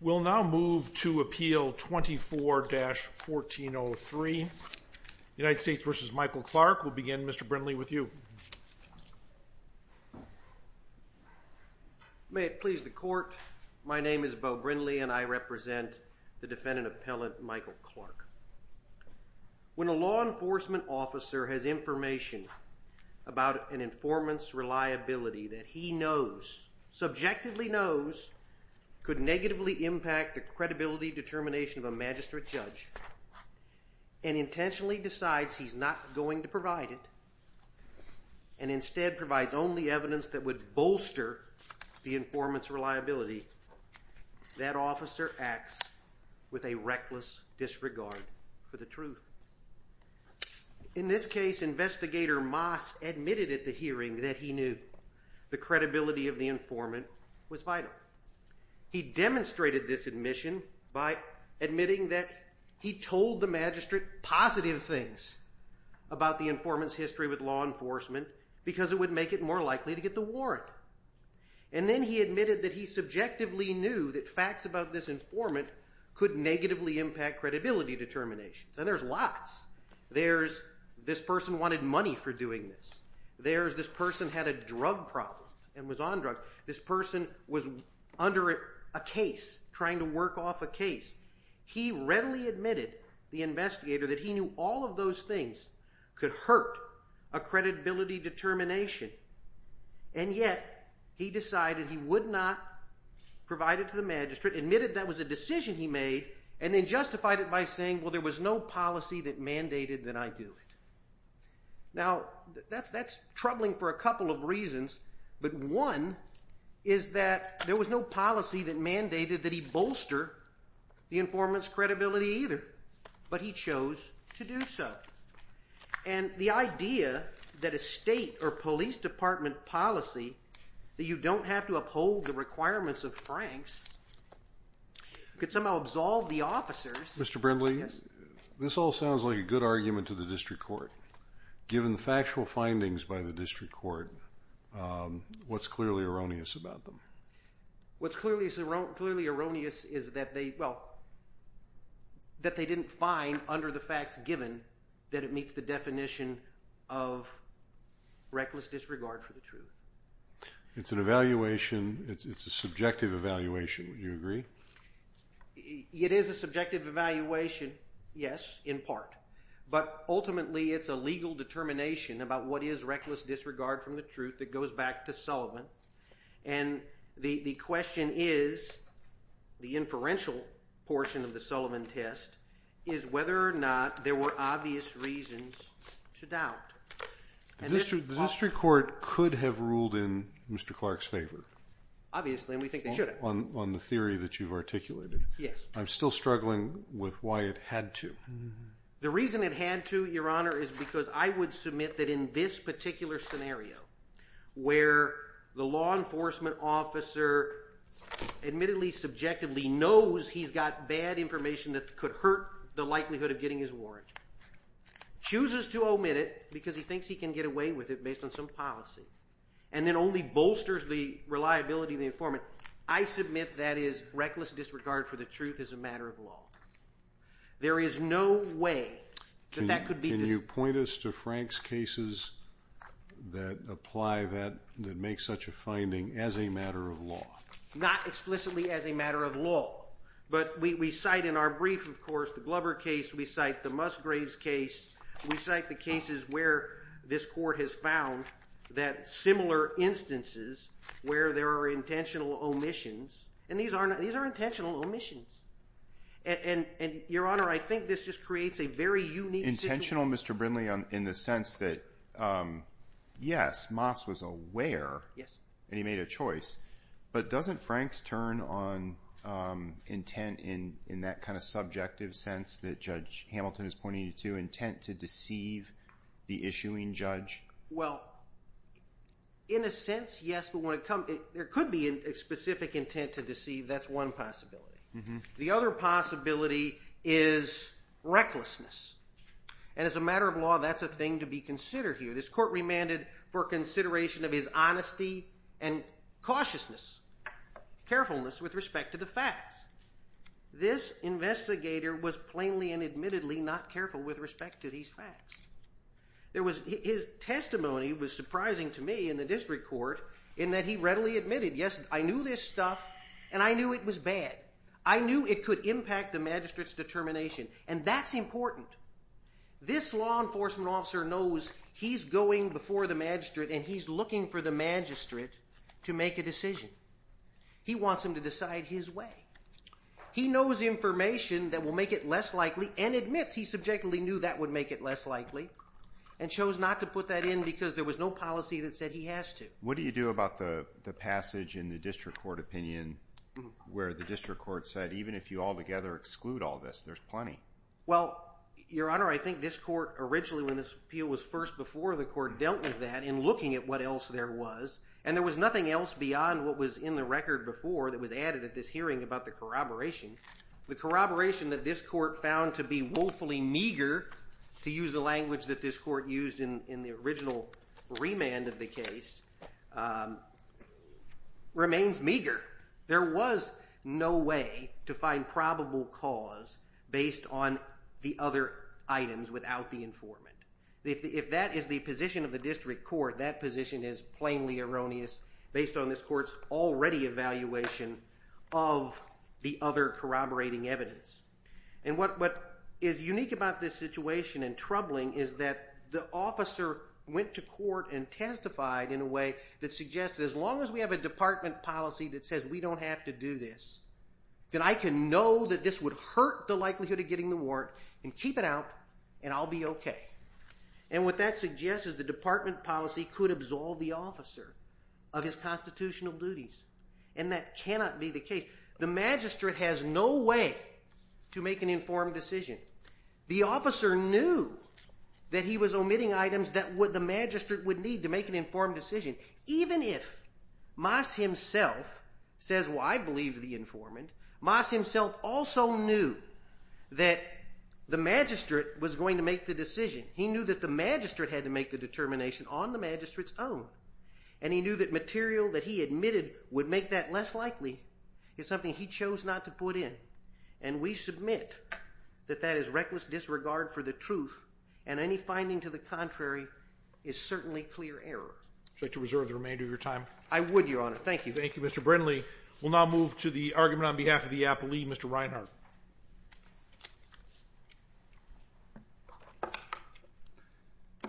We'll now move to Appeal 24-1403 United States v. Michael Clark. We'll begin Mr. Brindley with you. May it please the court, my name is Beau Brindley and I represent the defendant appellant Michael Clark. When a law enforcement officer has information about an informant's reliability that he knows, subjectively knows, could negatively impact the credibility determination of a magistrate judge and intentionally decides he's not going to provide it, and instead provides only evidence that would bolster the informant's reliability, that officer acts with a reckless disregard for the truth. In this case, Investigator Moss admitted at the hearing that he knew the credibility of the informant was vital. He demonstrated this admission by admitting that he told the magistrate positive things about the informant's history with law enforcement because it would make it more likely to get the warrant. And then he admitted that he subjectively knew that facts about this informant could negatively impact credibility determinations. And there's lots. There's this person wanted money for doing this. There's this person had a drug problem and was on drugs. This person was under a case, trying to work off a case. He readily admitted, the investigator, that he knew all of those things could hurt a credibility determination. And yet, he decided he would not provide it to the magistrate, admitted that was a decision he made, and then justified it by saying, well, there was no policy that mandated that I do it. Now, that's troubling for a couple of reasons. But one is that there was no policy that mandated that he bolster the informant's credibility either. But he chose to do so. And the idea that a state or police department policy, that you don't have to uphold the requirements of Franks, could somehow absolve the officers. Mr. Brindley, this all sounds like a good argument to the District Court. What's clearly erroneous about them? What's clearly erroneous is that they didn't find, under the facts given, that it meets the definition of reckless disregard for the truth. It's an evaluation. It's a subjective evaluation. Would you agree? It is a subjective evaluation, yes, in part. But ultimately, it's a legal determination about what is reckless disregard from the truth that goes back to Sullivan. And the question is, the inferential portion of the Sullivan test, is whether or not there were obvious reasons to doubt. The District Court could have ruled in Mr. Clark's favor. Obviously, and we think they should have. On the theory that you've articulated. Yes. I'm still struggling with why it had to. The reason it had to, Your Honor, is because I would submit that in this particular scenario, where the law enforcement officer admittedly, subjectively knows he's got bad information that could hurt the likelihood of getting his warrant, chooses to omit it because he thinks he can get away with it based on some policy, and then only bolsters the reliability of the informant, I submit that is reckless disregard for the truth is a matter of law. There is no way that that could be. Can you point us to Frank's cases that apply that, that make such a finding as a matter of law? Not explicitly as a matter of law. But we cite in our brief, of course, the Glover case, we cite the Musgraves case, we cite the cases where this court has found that similar instances where there are intentional omissions, and these are intentional omissions. And, Your Honor, I think this just creates a very unique situation. Intentional, Mr. Brindley, in the sense that, yes, Moss was aware, and he made a choice, but doesn't Frank's turn on intent in that kind of subjective sense that Judge Hamilton is pointing to, intent to deceive the issuing judge? Well, in a sense, yes, but when it comes, there could be a specific intent to deceive, that's one possibility. The other possibility is recklessness. And as a matter of law, that's a thing to be considered here. This court remanded for consideration of his honesty and cautiousness, carefulness with respect to the facts. This investigator was plainly and admittedly not careful with respect to these facts. There was, his testimony was surprising to me in the district court, in that he readily admitted, yes, I knew this stuff, and I knew it was bad. I knew it could impact the magistrate's determination, and that's important. This law enforcement officer knows he's going before the magistrate and he's looking for the magistrate to make a decision. He wants him to decide his way. He knows information that will make it less likely, and admits he subjectively knew that would make it less likely, and chose not to put that in because there was no policy that said he has to. What do you do about the passage in the district court opinion where the district court said, even if you all together exclude all this, there's plenty? Well, Your Honor, I think this court originally, when this appeal was first before the court, dealt with that in looking at what else there was, and there was nothing else beyond what was in the record before that was added at this hearing about the corroboration. The corroboration that this court found to be woefully meager, to use the language that this court used in the original remand of the case, remains meager. There was no way to find probable cause based on the other items without the informant. If that is the position of the district court, that position is plainly erroneous based on this court's already evaluation of the other corroborating evidence. And what is unique about this situation and troubling is that the officer went to court and testified in a way that suggested, as long as we have a department policy that says we don't have to do this, then I can know that this would hurt the likelihood of getting the warrant, and keep it out, and I'll be okay. And what that suggests is the department policy could absolve the officer of his constitutional duties, and that cannot be the case. The magistrate has no way to make an informed decision. The officer knew that he was omitting items that the magistrate would need to make an informed decision. Even if Moss himself says, well, I believe the informant, Moss himself also knew that the magistrate was going to make the decision. He knew that the magistrate had to make the determination on the magistrate's own, and he knew that material that he admitted would make that less likely is something he chose not to put in. And we submit that that is reckless disregard for the truth, and any finding to the contrary is certainly clear error. Would you like to reserve the remainder of your time? I would, Your Honor. Thank you. Thank you, Mr. Brindley. We'll now move to the argument on behalf of the appellee, Mr. Reinhart.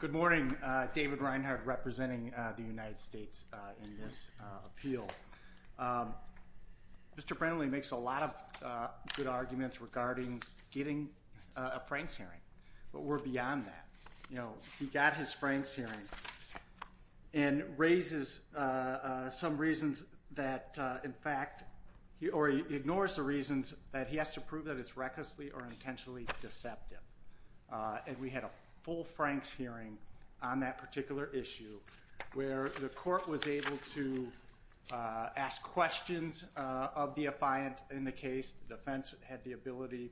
Good morning. David Reinhart, representing the United States in this appeal. Mr. Brindley makes a lot of good arguments regarding getting a Franks hearing, but we're beyond that. You know, he got his Franks hearing and raises some reasons that, in fact, he ignores the reasons that he has to prove that it's recklessly or intentionally deceptive. And we had a full Franks hearing on that particular issue where the court was able to ask questions of the affiant in the case. The defense had the ability,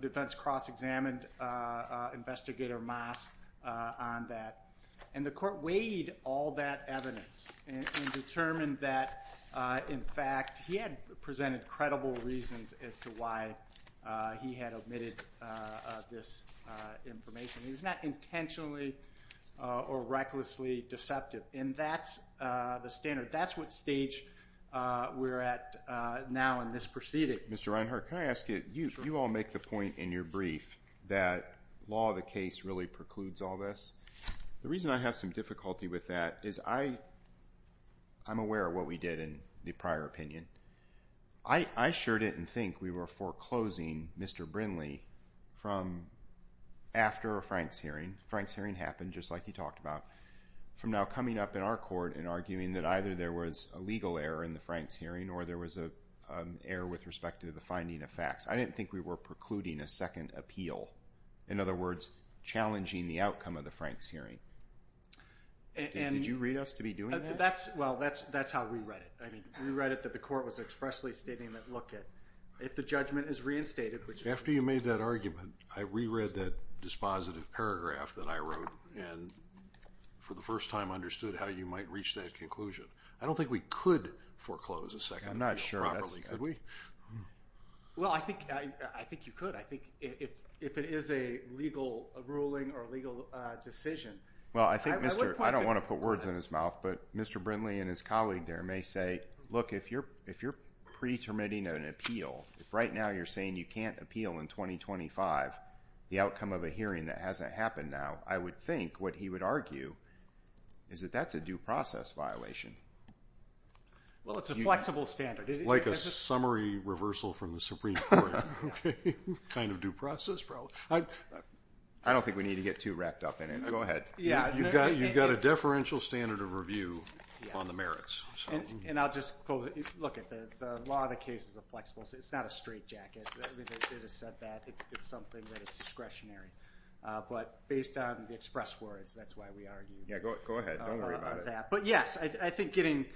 defense cross-examined Investigator Moss on that. And the court weighed all that evidence and determined that, in fact, he had presented credible reasons as to why he had omitted this information. He was not intentionally or recklessly deceptive. And that's the standard. That's what stage we're at now in this proceeding. Mr. Reinhart, can I ask you, you all make the point in your brief that law of the case really precludes all this. The reason I have some difficulty with that is I'm aware of what we did in the prior opinion. I sure didn't think we were foreclosing Mr. Brinley from after a Franks hearing. Franks hearing happened just like you talked about. From now coming up in our court and arguing that either there was a legal error in the Franks hearing or there was an error with respect to the finding of facts. I didn't think we were precluding a second appeal. In other words, challenging the outcome of the Franks hearing. Did you read us to be doing that? Well, that's how we read it. We read it that the court was expressly stating that, look, if the judgment is reinstated. After you made that argument, I reread that dispositive paragraph that I wrote and for the first time understood how you might reach that conclusion. I don't think we could foreclose a second appeal properly. Could we? Well, I think you could. I think if it is a legal ruling or a legal decision, I would not put words in his mouth, but Mr. Brinley and his colleague there may say, look, if you're pre-terminating an appeal, if right now you're saying you can't appeal in 2025, the outcome of a hearing that hasn't happened now, I would think what he would argue is that that's a due process violation. Well, it's a flexible standard. Like a summary reversal from the Supreme Court. Kind of due process. I don't think we need to get too wrapped up in it. Go ahead. You've got a deferential standard of review on the merits. And I'll just close it. Look, the law of the case is a flexible standard. It's not a straight jacket. They just said that. It's something that is discretionary. But based on the express words, that's why we argue. Yeah, go ahead. Don't worry about it. But yes, I think getting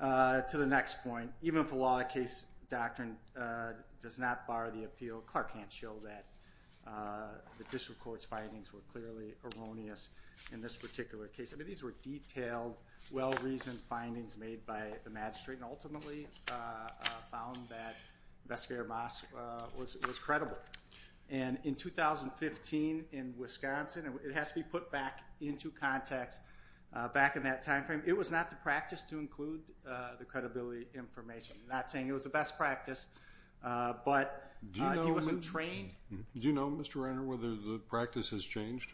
to the next point, even if the law of the case doctrine does not bar the appeal, Clark can't show that the district court's findings were clearly erroneous in this particular case. I mean, these were detailed, well-reasoned findings made by the magistrate, and ultimately found that Investigator Moss was credible. And in 2015 in Wisconsin, and it has to be put back into context, back in that time frame, it was not the practice to include the credibility information. I'm not saying it was the best practice, but he wasn't trained. Do you know, Mr. Renner, whether the practice has changed?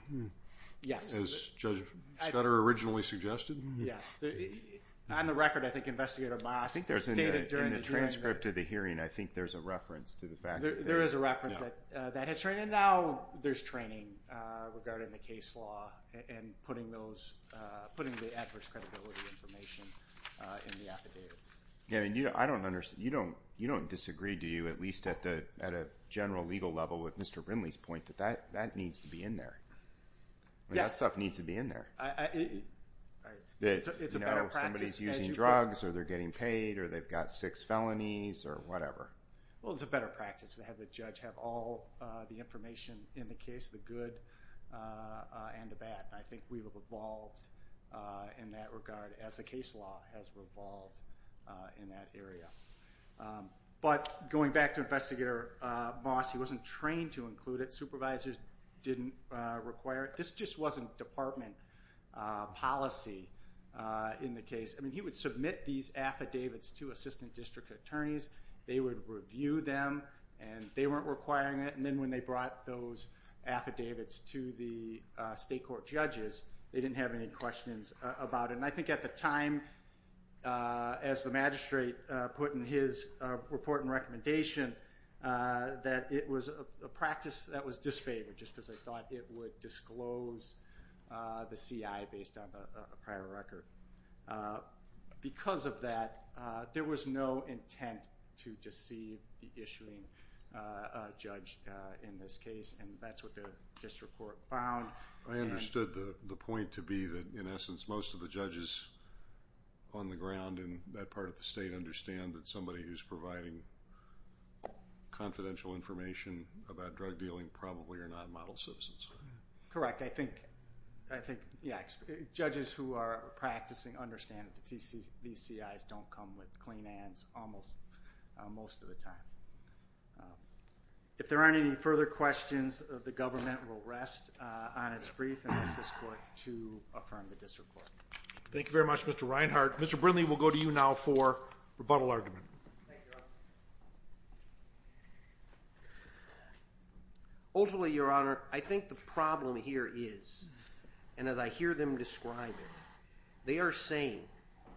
Yes. As Judge Scudder originally suggested? Yes. On the record, I think Investigator Moss stated during the hearing that In the transcript of the hearing, I think there's a reference to the fact that There is a reference that has changed. And now there's training regarding the case law and putting the adverse credibility information in the affidavits. Yeah, I don't understand. You don't disagree, do you, at least at a general legal level with Mr. Brinley's point, that that needs to be in there? Yes. That stuff needs to be in there. It's a better practice. Somebody's using drugs, or they're getting paid, or they've got six felonies, or whatever. Well, it's a better practice to have the judge have all the information in the case, the good and the bad. I think we've evolved in that regard as the case law has evolved in that area. But going back to Investigator Moss, he wasn't trained to include it. Supervisors didn't require it. This just wasn't department policy in the case. I mean, he would submit these affidavits to assistant district attorneys. They would review them, and they weren't requiring it. And then when they brought those affidavits to the state court judges, they didn't have any questions about it. And I think at the time, as the magistrate put in his report and recommendation, that it was a practice that was disfavored just because they thought it would disclose the CI based on a prior record. Because of that, there was no intent to deceive the issuing judge in this case, and that's what the district court found. I understood the point to be that, in essence, most of the judges on the ground in that part of the state understand that somebody who's providing confidential information about drug dealing probably are not model citizens. Correct. I think judges who are practicing understand that these CIs don't come with clean hands almost most of the time. If there aren't any further questions, the government will rest on its brief and ask this court to affirm the district court. Thank you very much, Mr. Reinhart. Mr. Brindley, we'll go to you now for rebuttal argument. Thank you, Your Honor. Ultimately, Your Honor, I think the problem here is, and as I hear them describe it, they are saying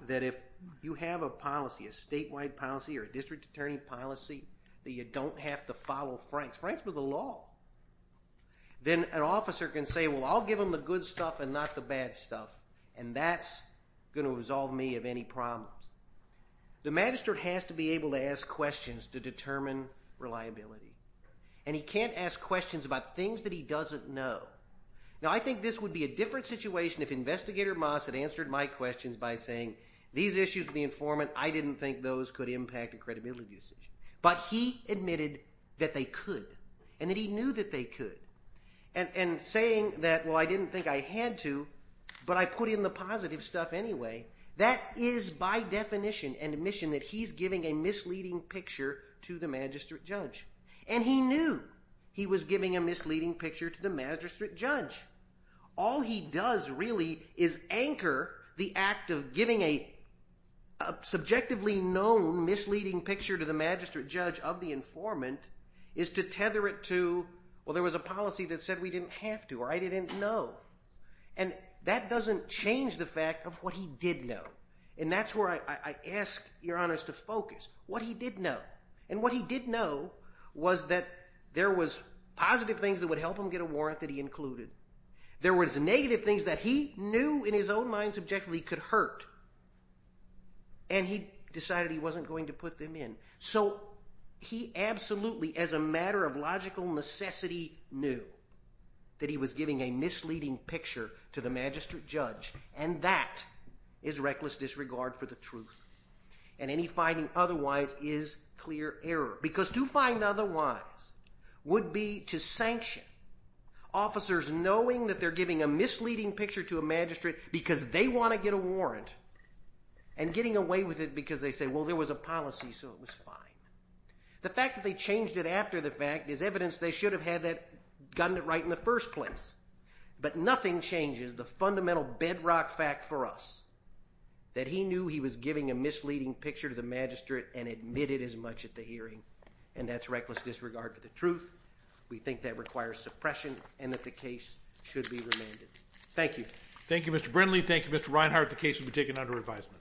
that if you have a policy, a statewide policy or a district attorney policy, that you don't have to follow Franks. Franks was the law. Then an officer can say, well, I'll give them the good stuff and not the bad stuff, and that's going to resolve me of any problems. The magistrate has to be able to ask questions to determine reliability, and he can't ask questions about things that he doesn't know. Now, I think this would be a different situation if Investigator Moss had answered my questions by saying, these issues with the informant, I didn't think those could impact a credibility decision. But he admitted that they could and that he knew that they could. And saying that, well, I didn't think I had to, but I put in the positive stuff anyway, that is by definition an admission that he's giving a misleading picture to the magistrate judge. And he knew he was giving a misleading picture to the magistrate judge. All he does really is anchor the act of giving a subjectively known misleading picture to the magistrate judge of the informant is to tether it to, well, there was a policy that said we didn't have to or I didn't know. And that doesn't change the fact of what he did know. And that's where I ask your honors to focus, what he did know. And what he did know was that there was positive things that would help him get a warrant that he included. There was negative things that he knew in his own mind subjectively could hurt. And he decided he wasn't going to put them in. So he absolutely as a matter of logical necessity knew that he was giving a misleading picture to the magistrate judge. And that is reckless disregard for the truth. And any finding otherwise is clear error. Because to find otherwise would be to sanction officers knowing that they're giving a misleading picture to a magistrate because they want to get a warrant and getting away with it because they say, well, there was a policy, so it was fine. The fact that they changed it after the fact is evidence they should have had gotten it right in the first place. But nothing changes the fundamental bedrock fact for us, that he knew he was giving a misleading picture to the magistrate and admitted as much at the hearing. And that's reckless disregard for the truth. We think that requires suppression and that the case should be remanded. Thank you. Thank you, Mr. Brindley. Thank you, Mr. Reinhart. The case will be taken under advisement.